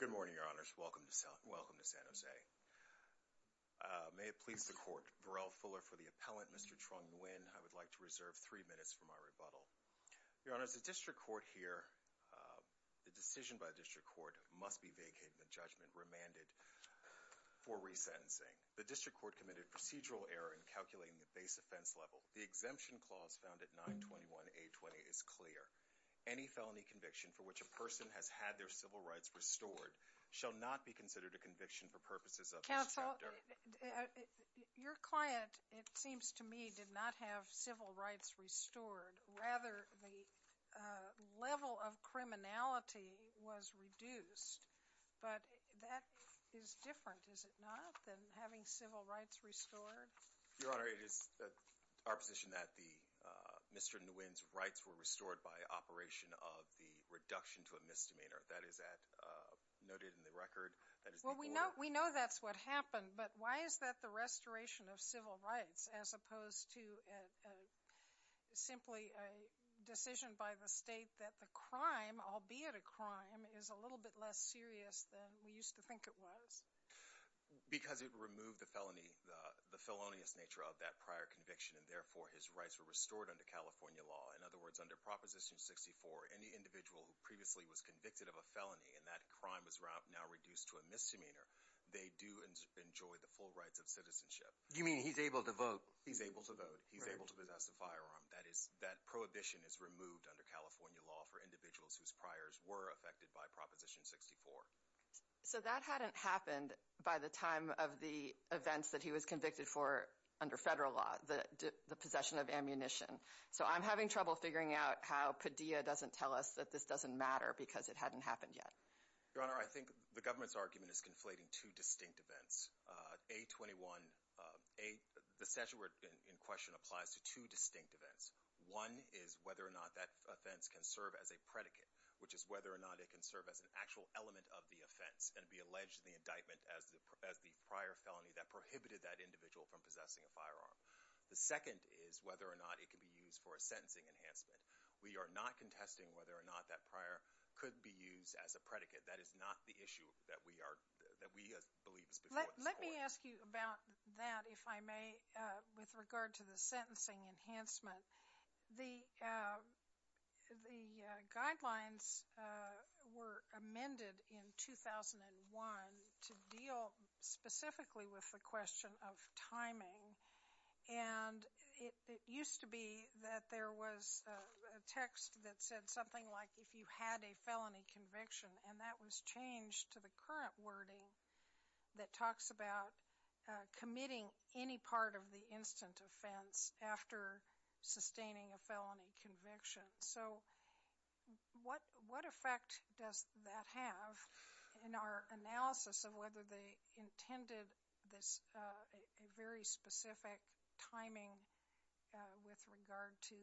Good morning, Your Honors. Welcome to San Jose. May it please the Court, Varel Fuller for the appellant, Mr. Trung Nguyen, I would like to reserve three minutes for my rebuttal. Your Honors, the District Court here, the decision by the District Court must be vacated and the judgment remanded for resentencing. The District Court committed procedural error in calculating the base offense level. The exemption clause found at 921-820 is clear. Any felony conviction for which a person has had their civil rights restored shall not be considered a conviction for purposes of this chapter. Counsel, your client, it seems to me, did not have civil rights restored. Rather, the level of criminality was reduced. But that is different, is it not, than having civil rights restored? Your Honor, it is our position that Mr. Nguyen's rights were restored by operation of the reduction to a misdemeanor. That is noted in the record. We know that's what happened, but why is that the restoration of civil rights as opposed to simply a decision by the state that the crime, albeit a crime, is a little bit less serious than we used to think it was? Because it removed the felony, the felonious nature of that prior conviction, and therefore his rights were restored under California law. In other words, under Proposition 64, any individual who previously was convicted of a felony and that crime was now reduced to a misdemeanor, they do enjoy the full rights of citizenship. You mean he's able to vote? He's able to vote. He's able to possess a firearm. That prohibition is removed under Proposition 64. So that hadn't happened by the time of the events that he was convicted for under federal law, the possession of ammunition. So I'm having trouble figuring out how Padilla doesn't tell us that this doesn't matter because it hadn't happened yet. Your Honor, I think the government's argument is conflating two distinct events. The statute in question applies to two distinct events. One is whether or not that offense can serve as a predicate, which is whether or not it can serve as an actual element of the offense and be alleged in the indictment as the prior felony that prohibited that individual from possessing a firearm. The second is whether or not it can be used for a sentencing enhancement. We are not contesting whether or not that prior could be used as a predicate. That is not the issue that we believe is before us. Let me ask you about that, if I may, with regard to the sentencing enhancement. The guidelines were amended in 2001 to deal specifically with the question of timing. And it used to be that there was a text that said something like, if you had a felony conviction, and that was changed to the current wording that talks about committing any part of the instant offense after sustaining a felony conviction. So, what effect does that have in our analysis of whether they intended this, a very specific timing with regard to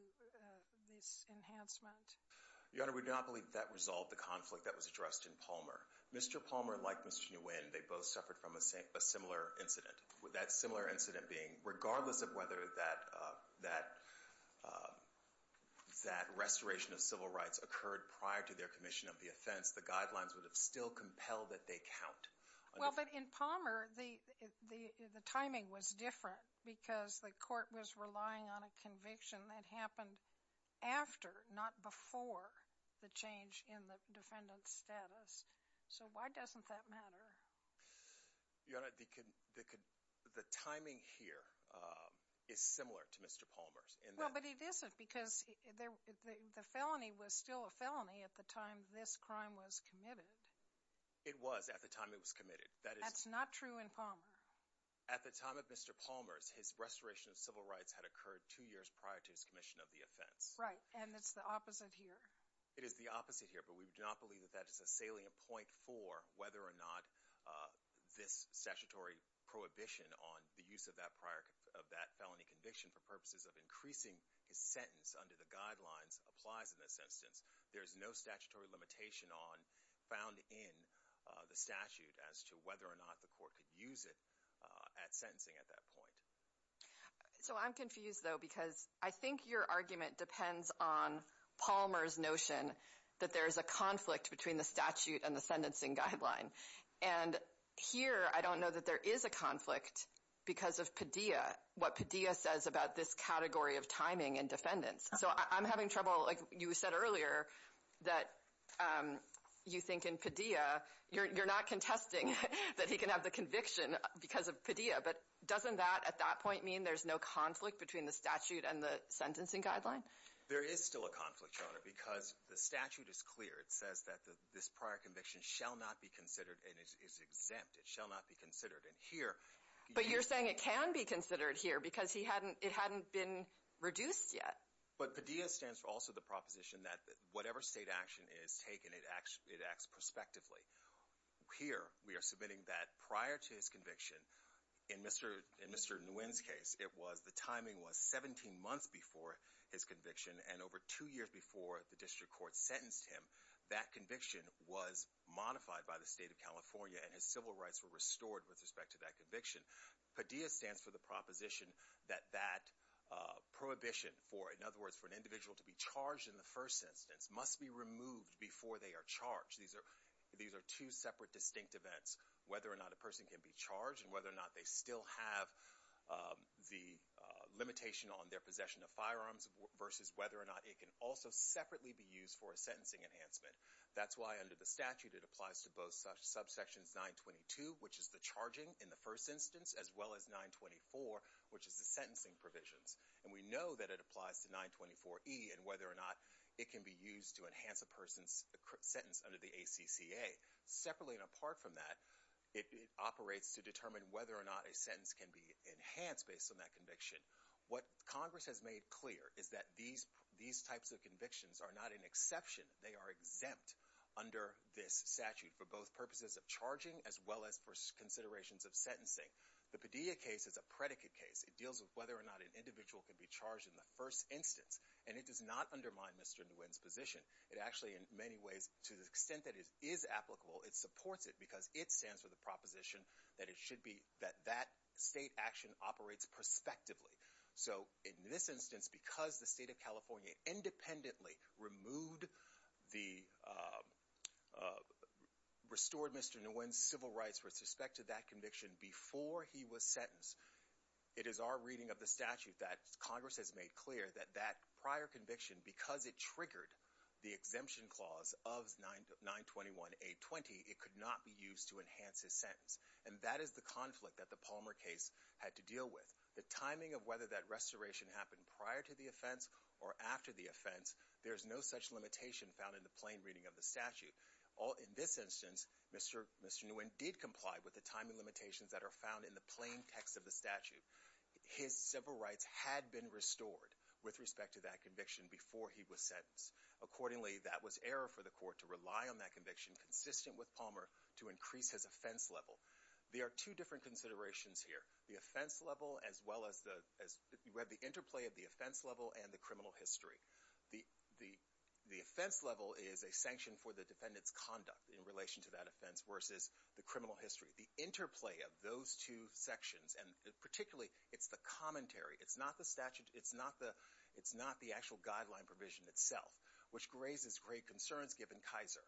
this enhancement? Your Honor, we do not believe that resolved the conflict that was addressed in Palmer. Mr. Palmer, like Mr. Nguyen, they both suffered from a similar incident. That similar incident being, regardless of whether that restoration of civil rights occurred prior to their commission of the offense, the guidelines would have still compelled that they count. Well, but in Palmer, the timing was different because the court was relying on a conviction that happened after, not before, the change in the defendant's status. So, why doesn't that matter? Your Honor, the timing here is similar to Mr. Palmer's. Well, but it isn't because the felony was still a felony at the time this crime was committed. It was at the time it was committed. That's not true in Palmer. At the time of Mr. Palmer's, his restoration of civil rights had occurred two years prior to his commission of the offense. Right, and it's the opposite here. It is the opposite here, but we do not believe that that is a salient point for whether or not this statutory prohibition on the use of that felony conviction for purposes of increasing his sentence under the guidelines applies in this instance. There is no statutory limitation on, found in, the statute as to whether or not the court could use it at sentencing at that point. So, I'm confused, though, because I think your argument depends on Palmer's notion that there is a conflict between the statute and the sentencing guideline, and here I don't know that there is a conflict because of Padilla, what Padilla says about this category of timing in defendants. So, I'm having trouble, like you said earlier, that you think in Padilla, you're not contesting that he can have the conviction because of Padilla, but doesn't that at that point mean there's no conflict between the statute and the sentencing guideline? There is still a conflict, Your Honor, because the statute is clear. It says that this prior conviction shall not be considered, and it's exempt. It shall not be considered, and here... But you're saying it can be considered here because it hadn't been reduced yet. But Padilla stands for also the proposition that whatever state action is taken, it acts prospectively. Here, we are submitting that prior to his conviction, in Mr. Nguyen's case, it was the timing was 17 months before his conviction, and over two years before the district court sentenced him, that conviction was modified by the state of California, and his civil rights were restored with respect to that conviction. Padilla stands for the proposition that that prohibition for, in other words, for an individual to be charged in the first instance must be removed before they are charged. These are two separate, distinct events, whether or not a person can be charged and whether or not they still have the limitation on their possession of firearms versus whether or not it can also separately be used for a sentencing enhancement. That's why under the statute, it applies to both subsections 922, which is the charging in the first instance, as well as 924, which is the sentencing provisions, and we know that it applies to 924E and whether or not it can be used to enhance a person's sentence under the ACCA. Separately and apart from that, it operates to determine whether or not a sentence can be enhanced based on that conviction. What Congress has made clear is that these types of convictions are not an exception. They are exempt under this statute for both purposes of charging as well as for considerations of sentencing. The Padilla case is a predicate case. It deals with whether or not an individual can be charged in the first instance, and it does not undermine Mr. Nguyen's position. It actually, in many ways, to the extent that it is applicable, it supports it because it stands for the proposition that it should be that that state action operates prospectively. So in this instance, because the state of California independently removed the restored Mr. Nguyen's civil rights with respect to that conviction before he was sentenced, it is our reading of the statute that Congress has made clear that that prior conviction, because it triggered the exemption clause of 921-820, it could not be used to enhance his sentence. And that is the conflict that the Palmer case had to deal with. The timing of whether that restoration happened prior to the offense or after the offense, there's no such limitation found in the plain reading of the statute. In this instance, Mr. Nguyen did comply with the timing limitations that are found in the plain text of the statute. His civil rights had been restored with respect to that conviction before he was sentenced. Accordingly, that was error for the court to rely on that conviction consistent with Palmer to increase his offense level. There are two different considerations here. The offense level as well as the, you have the interplay of the offense level and the criminal history. The offense level is a sanction for the defendant's conduct in relation to that offense versus the criminal history. The interplay of those two sections, and particularly, it's the commentary. It's not the statute. It's not the actual guideline provision itself, which raises great concerns given Kaiser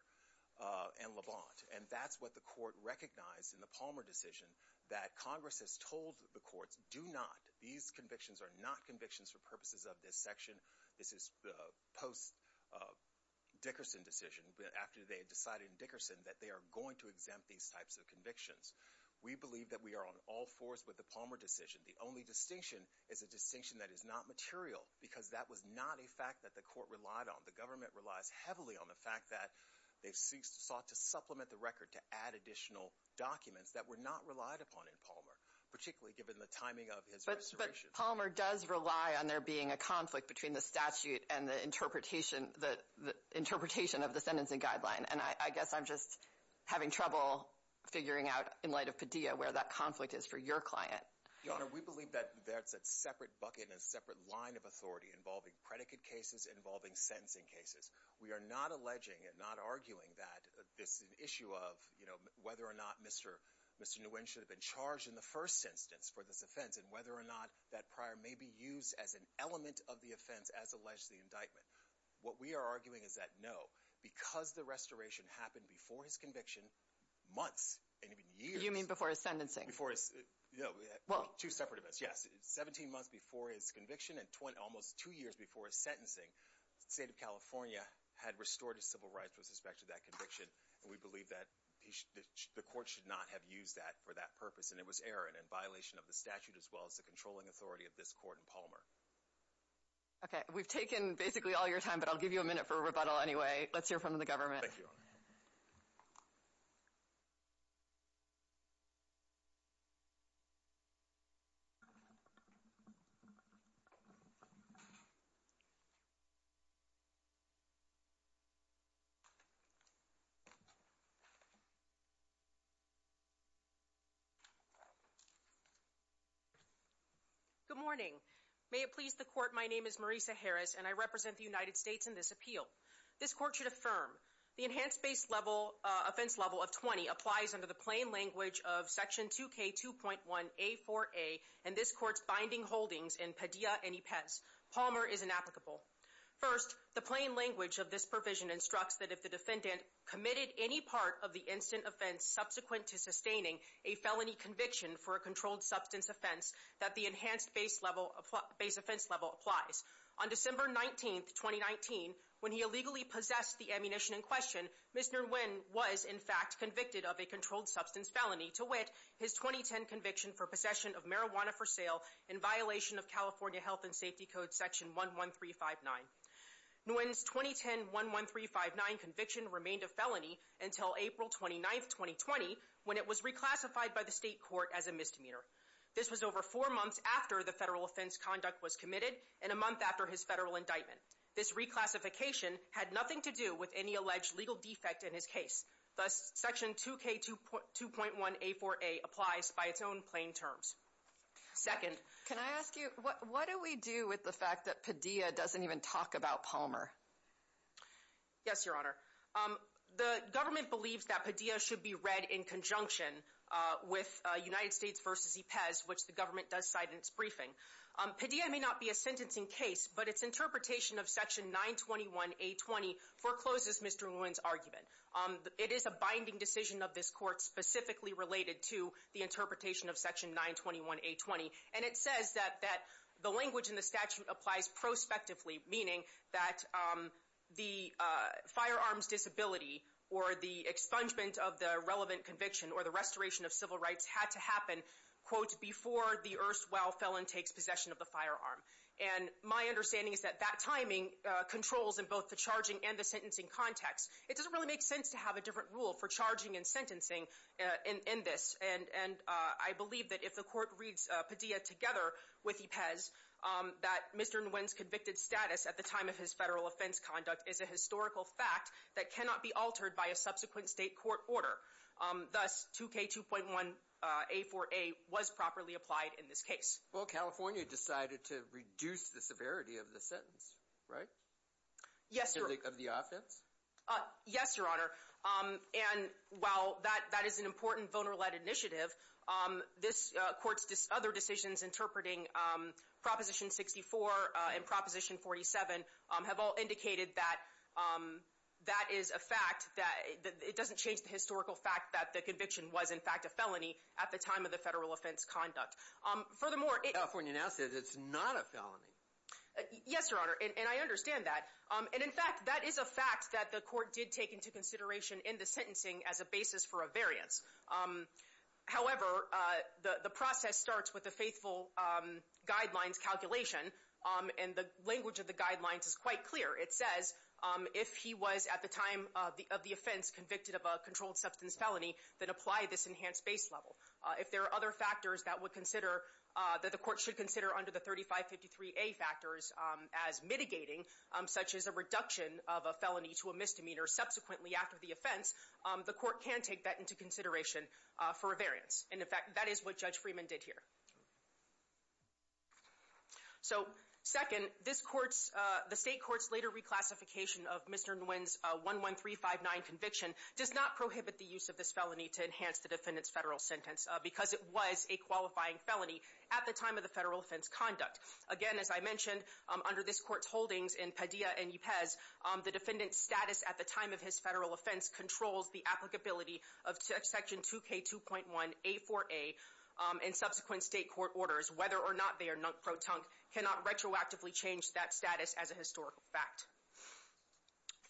and Levant. And that's what the court recognized in the Palmer decision that Congress has told the courts do not, these convictions are not convictions for purposes of this section. This is post-Dickerson decision, after they had decided in Dickerson that they are going to exempt these types of convictions. We believe that we are on all fours with the Palmer decision. The only distinction is a distinction that is not material because that was not a fact that the court relied on. The government relies heavily on the fact that they sought to supplement the record to add additional documents that were not relied upon in Palmer, particularly given the timing of his restoration. But Palmer does rely on there being a conflict between the statute and the interpretation of the sentencing guideline. And I guess I'm just having trouble figuring out, in light of Padilla, where that conflict is for your client. Your Honor, we believe that that's a separate bucket and a separate line of authority involving predicate cases, involving sentencing cases. We are not alleging and not arguing that this is an issue of, you know, whether or not Mr. Nguyen should have been charged in the first instance for this offense, and whether or not that prior may be used as an element of the offense as alleged to the indictment. What we are arguing is that, no, because the restoration happened before his conviction months, and even years. You mean before his sentencing? Before his, you know, two separate events, yes, 17 months before his conviction and almost two years before his sentencing, the state of California had restored his civil rights with respect to that conviction, and we believe that the court should not have used that for that purpose, and it was error and in violation of the statute as well as the controlling authority of this court in Palmer. Okay. We've taken basically all your time, but I'll give you a minute for a rebuttal anyway. Let's hear from the government. Thank you, Your Honor. Good morning. May it please the court, my name is Marisa Harris, and I represent the United States in this appeal. This court should affirm the enhanced base level offense level of 20 applies under the Palmer is inapplicable. First, the plain language of this provision instructs that if the defendant committed any part of the instant offense subsequent to sustaining a felony conviction for a controlled substance offense, that the enhanced base level base offense level applies. On December 19, 2019, when he illegally possessed the ammunition in question, Mr. Nguyen was, in fact, convicted of a controlled substance felony to wit, his 2010 conviction for possession of marijuana for sale in violation of California health and safety code section 11359. Nguyen's 2010 11359 conviction remained a felony until April 29, 2020, when it was reclassified by the state court as a misdemeanor. This was over four months after the federal offense conduct was committed and a month after his federal indictment. This reclassification had nothing to do with any alleged legal defect in his case. Thus, Section 2K2.1A4A applies by its own plain terms. Second. Can I ask you, what do we do with the fact that Padilla doesn't even talk about Palmer? Yes, Your Honor. The government believes that Padilla should be read in conjunction with United States v. Ypez, which the government does cite in its briefing. Padilla may not be a sentencing case, but its interpretation of Section 921A20 forecloses Mr. Nguyen's argument. It is a binding decision of this court specifically related to the interpretation of Section 921A20. And it says that the language in the statute applies prospectively, meaning that the firearm's disability or the expungement of the relevant conviction or the restoration of civil rights had to happen, quote, before the erstwhile felon takes possession of the firearm. And my understanding is that that timing controls in both the charging and the sentencing context. It doesn't really make sense to have a different rule for charging and sentencing in this. And I believe that if the court reads Padilla together with Ypez, that Mr. Nguyen's convicted status at the time of his federal offense conduct is a historical fact that cannot be altered by a subsequent state court order. Thus, 2K2.1A4A was properly applied in this case. Well, California decided to reduce the severity of the sentence, right? Yes, Your Honor. Yes, Your Honor. And while that is an important, vulnerable initiative, this court's other decisions interpreting Proposition 64 and Proposition 47 have all indicated that that is a fact, that it doesn't change the historical fact that the conviction was, in fact, a felony at the time of the federal offense conduct. Furthermore, it— California now says it's not a felony. Yes, Your Honor. And I understand that. And, in fact, that is a fact that the court did take into consideration in the sentencing as a basis for a variance. However, the process starts with the faithful guidelines calculation, and the language of the guidelines is quite clear. It says if he was, at the time of the offense, convicted of a controlled substance felony, then apply this enhanced base level. If there are other factors that would consider—that the court should consider under the 3553A factors as mitigating, such as a reduction of a felony to a misdemeanor subsequently after the offense, the court can take that into consideration for a variance. And, in fact, that is what Judge Freeman did here. So, second, this court's—the state court's later reclassification of Mr. Nguyen's 11359 conviction does not prohibit the use of this felony to enhance the defendant's federal sentence because it was a qualifying felony at the time of the federal offense conduct. Again, as I mentioned, under this court's holdings in Padilla and Ypez, the defendant's status at the time of his federal offense controls the applicability of Section 2K2.1 A4A, and subsequent state court orders, whether or not they are non-proton, cannot retroactively change that status as a historical fact.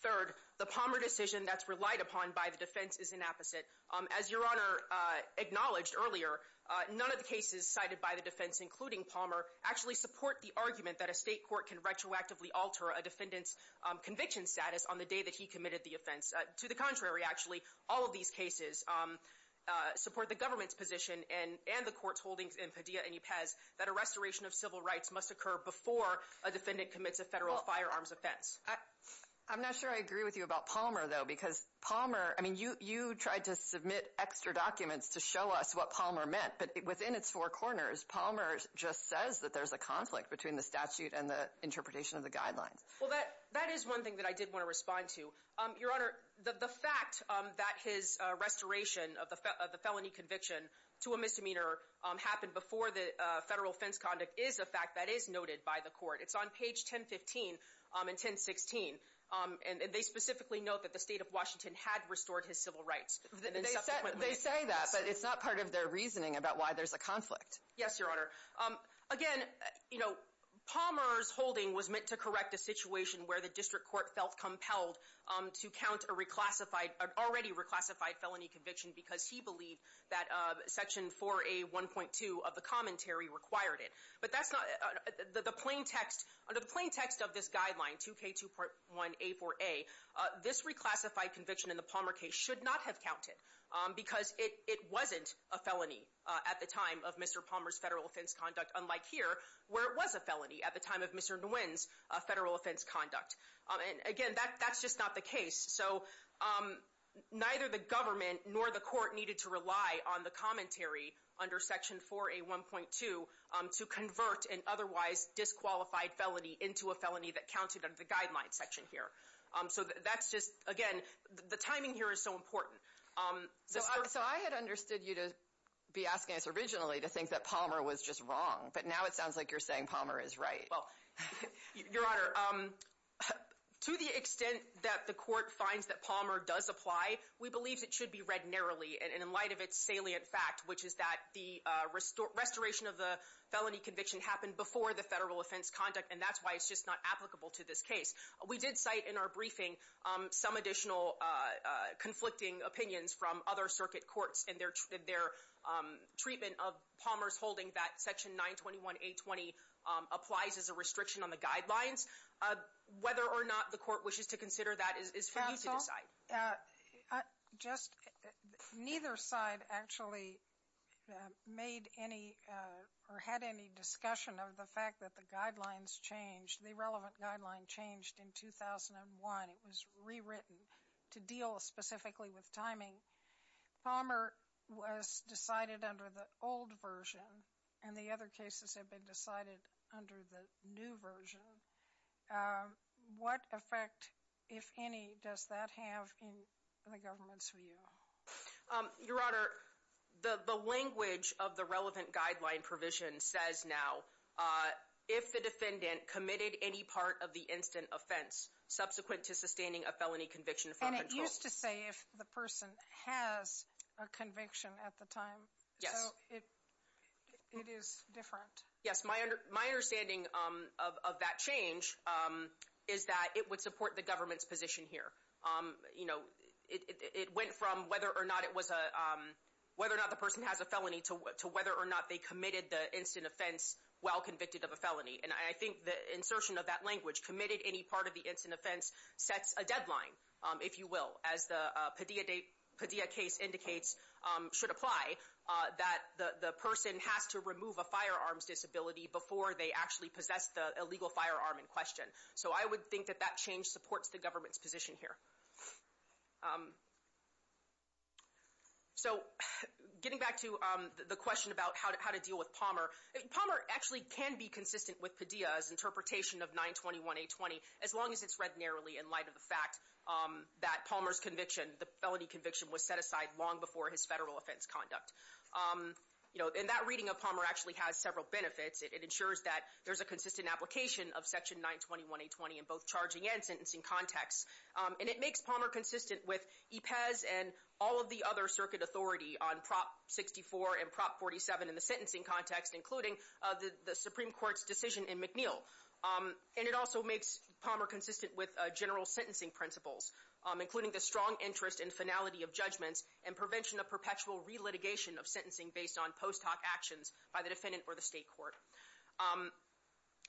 Third, the Palmer decision that's relied upon by the defense is an opposite. As Your Honor acknowledged earlier, none of the cases cited by the defense, including support the argument that a state court can retroactively alter a defendant's conviction status on the day that he committed the offense. To the contrary, actually, all of these cases support the government's position and the court's holdings in Padilla and Ypez that a restoration of civil rights must occur before a defendant commits a federal firearms offense. I'm not sure I agree with you about Palmer, though, because Palmer—I mean, you tried to submit extra documents to show us what Palmer meant, but within its four corners, Palmer just says that there's a conflict between the statute and the interpretation of the guidelines. Well, that is one thing that I did want to respond to. Your Honor, the fact that his restoration of the felony conviction to a misdemeanor happened before the federal offense conduct is a fact that is noted by the court. It's on page 1015 and 1016, and they specifically note that the state of Washington had restored his civil rights. They say that, but it's not part of their reasoning about why there's a conflict. Yes, Your Honor. Again, you know, Palmer's holding was meant to correct a situation where the district court felt compelled to count a reclassified—an already reclassified felony conviction because he believed that Section 4A1.2 of the commentary required it. But that's not—the plain text—under the plain text of this guideline, 2K2.1A4A, this reclassified conviction in the Palmer case should not have counted because it wasn't a felony at the time of Mr. Palmer's federal offense conduct, unlike here, where it was a felony at the time of Mr. Nguyen's federal offense conduct. And again, that's just not the case. So neither the government nor the court needed to rely on the commentary under Section 4A1.2 to convert an otherwise disqualified felony into a felony that counted under the guideline section here. So that's just—again, the timing here is so important. So I had understood you to be asking us originally to think that Palmer was just wrong, but now it sounds like you're saying Palmer is right. Well, Your Honor, to the extent that the court finds that Palmer does apply, we believe it should be read narrowly. And in light of its salient fact, which is that the restoration of the felony conviction happened before the federal offense conduct, and that's why it's just not applicable to this case. We did cite in our briefing some additional conflicting opinions from other circuit courts in their treatment of Palmer's holding that Section 921A20 applies as a restriction on the guidelines. Whether or not the court wishes to consider that is for you to decide. Counsel, just—neither side actually made any or had any discussion of the fact that the guidelines changed—the relevant guideline changed in 2001. It was rewritten to deal specifically with timing. Palmer was decided under the old version, and the other cases have been decided under the new version. What effect, if any, does that have in the government's view? Your Honor, the language of the relevant guideline provision says now, if the defendant committed any part of the instant offense subsequent to sustaining a felony conviction from control— And it used to say if the person has a conviction at the time. Yes. So it is different. Yes. My understanding of that change is that it would support the government's position here. It went from whether or not the person has a felony to whether or not they committed the instant offense while convicted of a felony. And I think the insertion of that language—committed any part of the instant offense—sets a deadline, if you will, as the Padilla case indicates should apply, that the person has to remove a firearms disability before they actually possess the illegal firearm in question. So I would think that that change supports the government's position here. So getting back to the question about how to deal with Palmer, Palmer actually can be consistent with Padilla's interpretation of 921-820, as long as it's read narrowly in light of the fact that Palmer's conviction, the felony conviction, was set aside long before his federal offense conduct. And that reading of Palmer actually has several benefits. It ensures that there's a consistent application of Section 921-820 in both charging and sentencing contexts. And it makes Palmer consistent with EPES and all of the other circuit authority on Prop 64 and Prop 47 in the sentencing context, including the Supreme Court's decision in McNeil. And it also makes Palmer consistent with general sentencing principles, including the strong interest in finality of judgments and prevention of perpetual relitigation of sentencing based on post hoc actions by the defendant or the state court.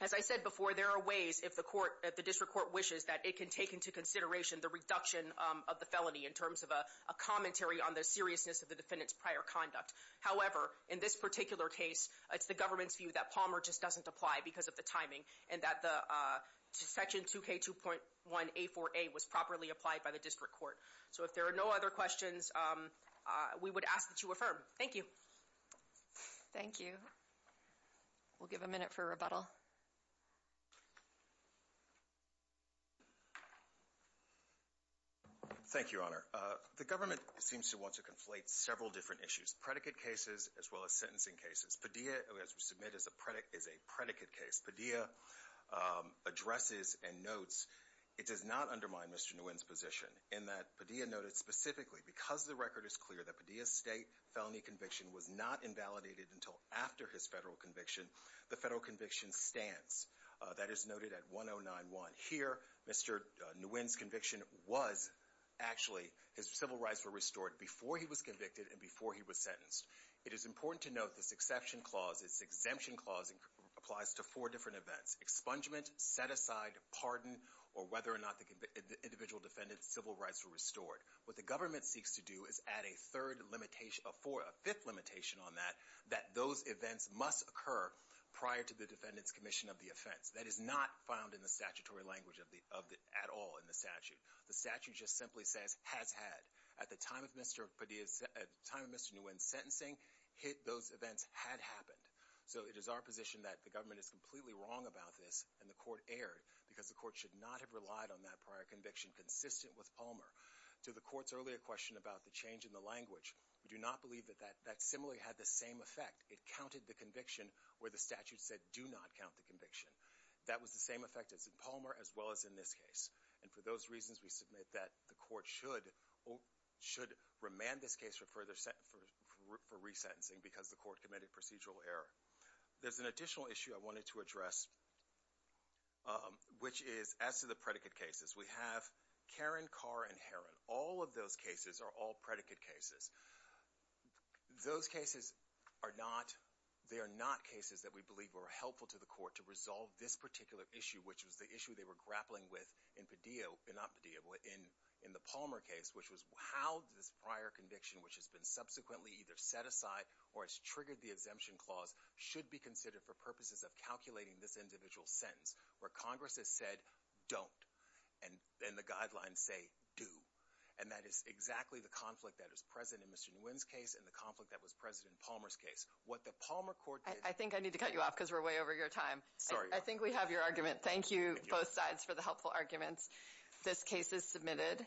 As I said before, there are ways, if the district court wishes, that it can take into consideration the reduction of the felony in terms of a commentary on the seriousness of the defendant's prior conduct. However, in this particular case, it's the government's view that Palmer just doesn't apply because of the timing and that Section 2K2.1A4A was properly applied by the district court. So if there are no other questions, we would ask that you affirm. Thank you. Thank you. We'll give a minute for rebuttal. Thank you, Honor. The government seems to want to conflate several different issues, predicate cases as well as sentencing cases. Padilla, as we submit, is a predicate case. Padilla addresses and notes it does not undermine Mr. Nguyen's position in that Padilla noted Specifically, because the record is clear that Padilla's state felony conviction was not invalidated until after his federal conviction, the federal conviction stands. That is noted at 1091. Here, Mr. Nguyen's conviction was actually, his civil rights were restored before he was convicted and before he was sentenced. It is important to note this exception clause, this exemption clause, applies to four different events. Expungement, set aside, pardon, or whether or not the individual defendant's civil rights were restored. What the government seeks to do is add a third limitation, a fifth limitation on that, that those events must occur prior to the defendant's commission of the offense. That is not found in the statutory language at all in the statute. The statute just simply says, has had. At the time of Mr. Nguyen's sentencing, those events had happened. So, it is our position that the government is completely wrong about this and the court should not have relied on that prior conviction consistent with Palmer. To the court's earlier question about the change in the language, we do not believe that that similarly had the same effect. It counted the conviction where the statute said, do not count the conviction. That was the same effect as in Palmer as well as in this case. And for those reasons, we submit that the court should remand this case for resentencing because the court committed procedural error. There's an additional issue I wanted to address, which is as to the predicate cases. We have Caron, Carr, and Herron. All of those cases are all predicate cases. Those cases are not, they are not cases that we believe were helpful to the court to resolve this particular issue, which was the issue they were grappling with in Padilla, not Padilla, in the Palmer case, which was how this prior conviction, which has been subsequently either set aside or has triggered the exemption clause, should be considered for purposes of calculating this individual sentence, where Congress has said, don't, and the guidelines say, do. And that is exactly the conflict that was present in Mr. Nguyen's case and the conflict that was present in Palmer's case. What the Palmer court did... I think I need to cut you off because we're way over your time. Sorry. I think we have your argument. Thank you, both sides, for the helpful arguments. This case is submitted.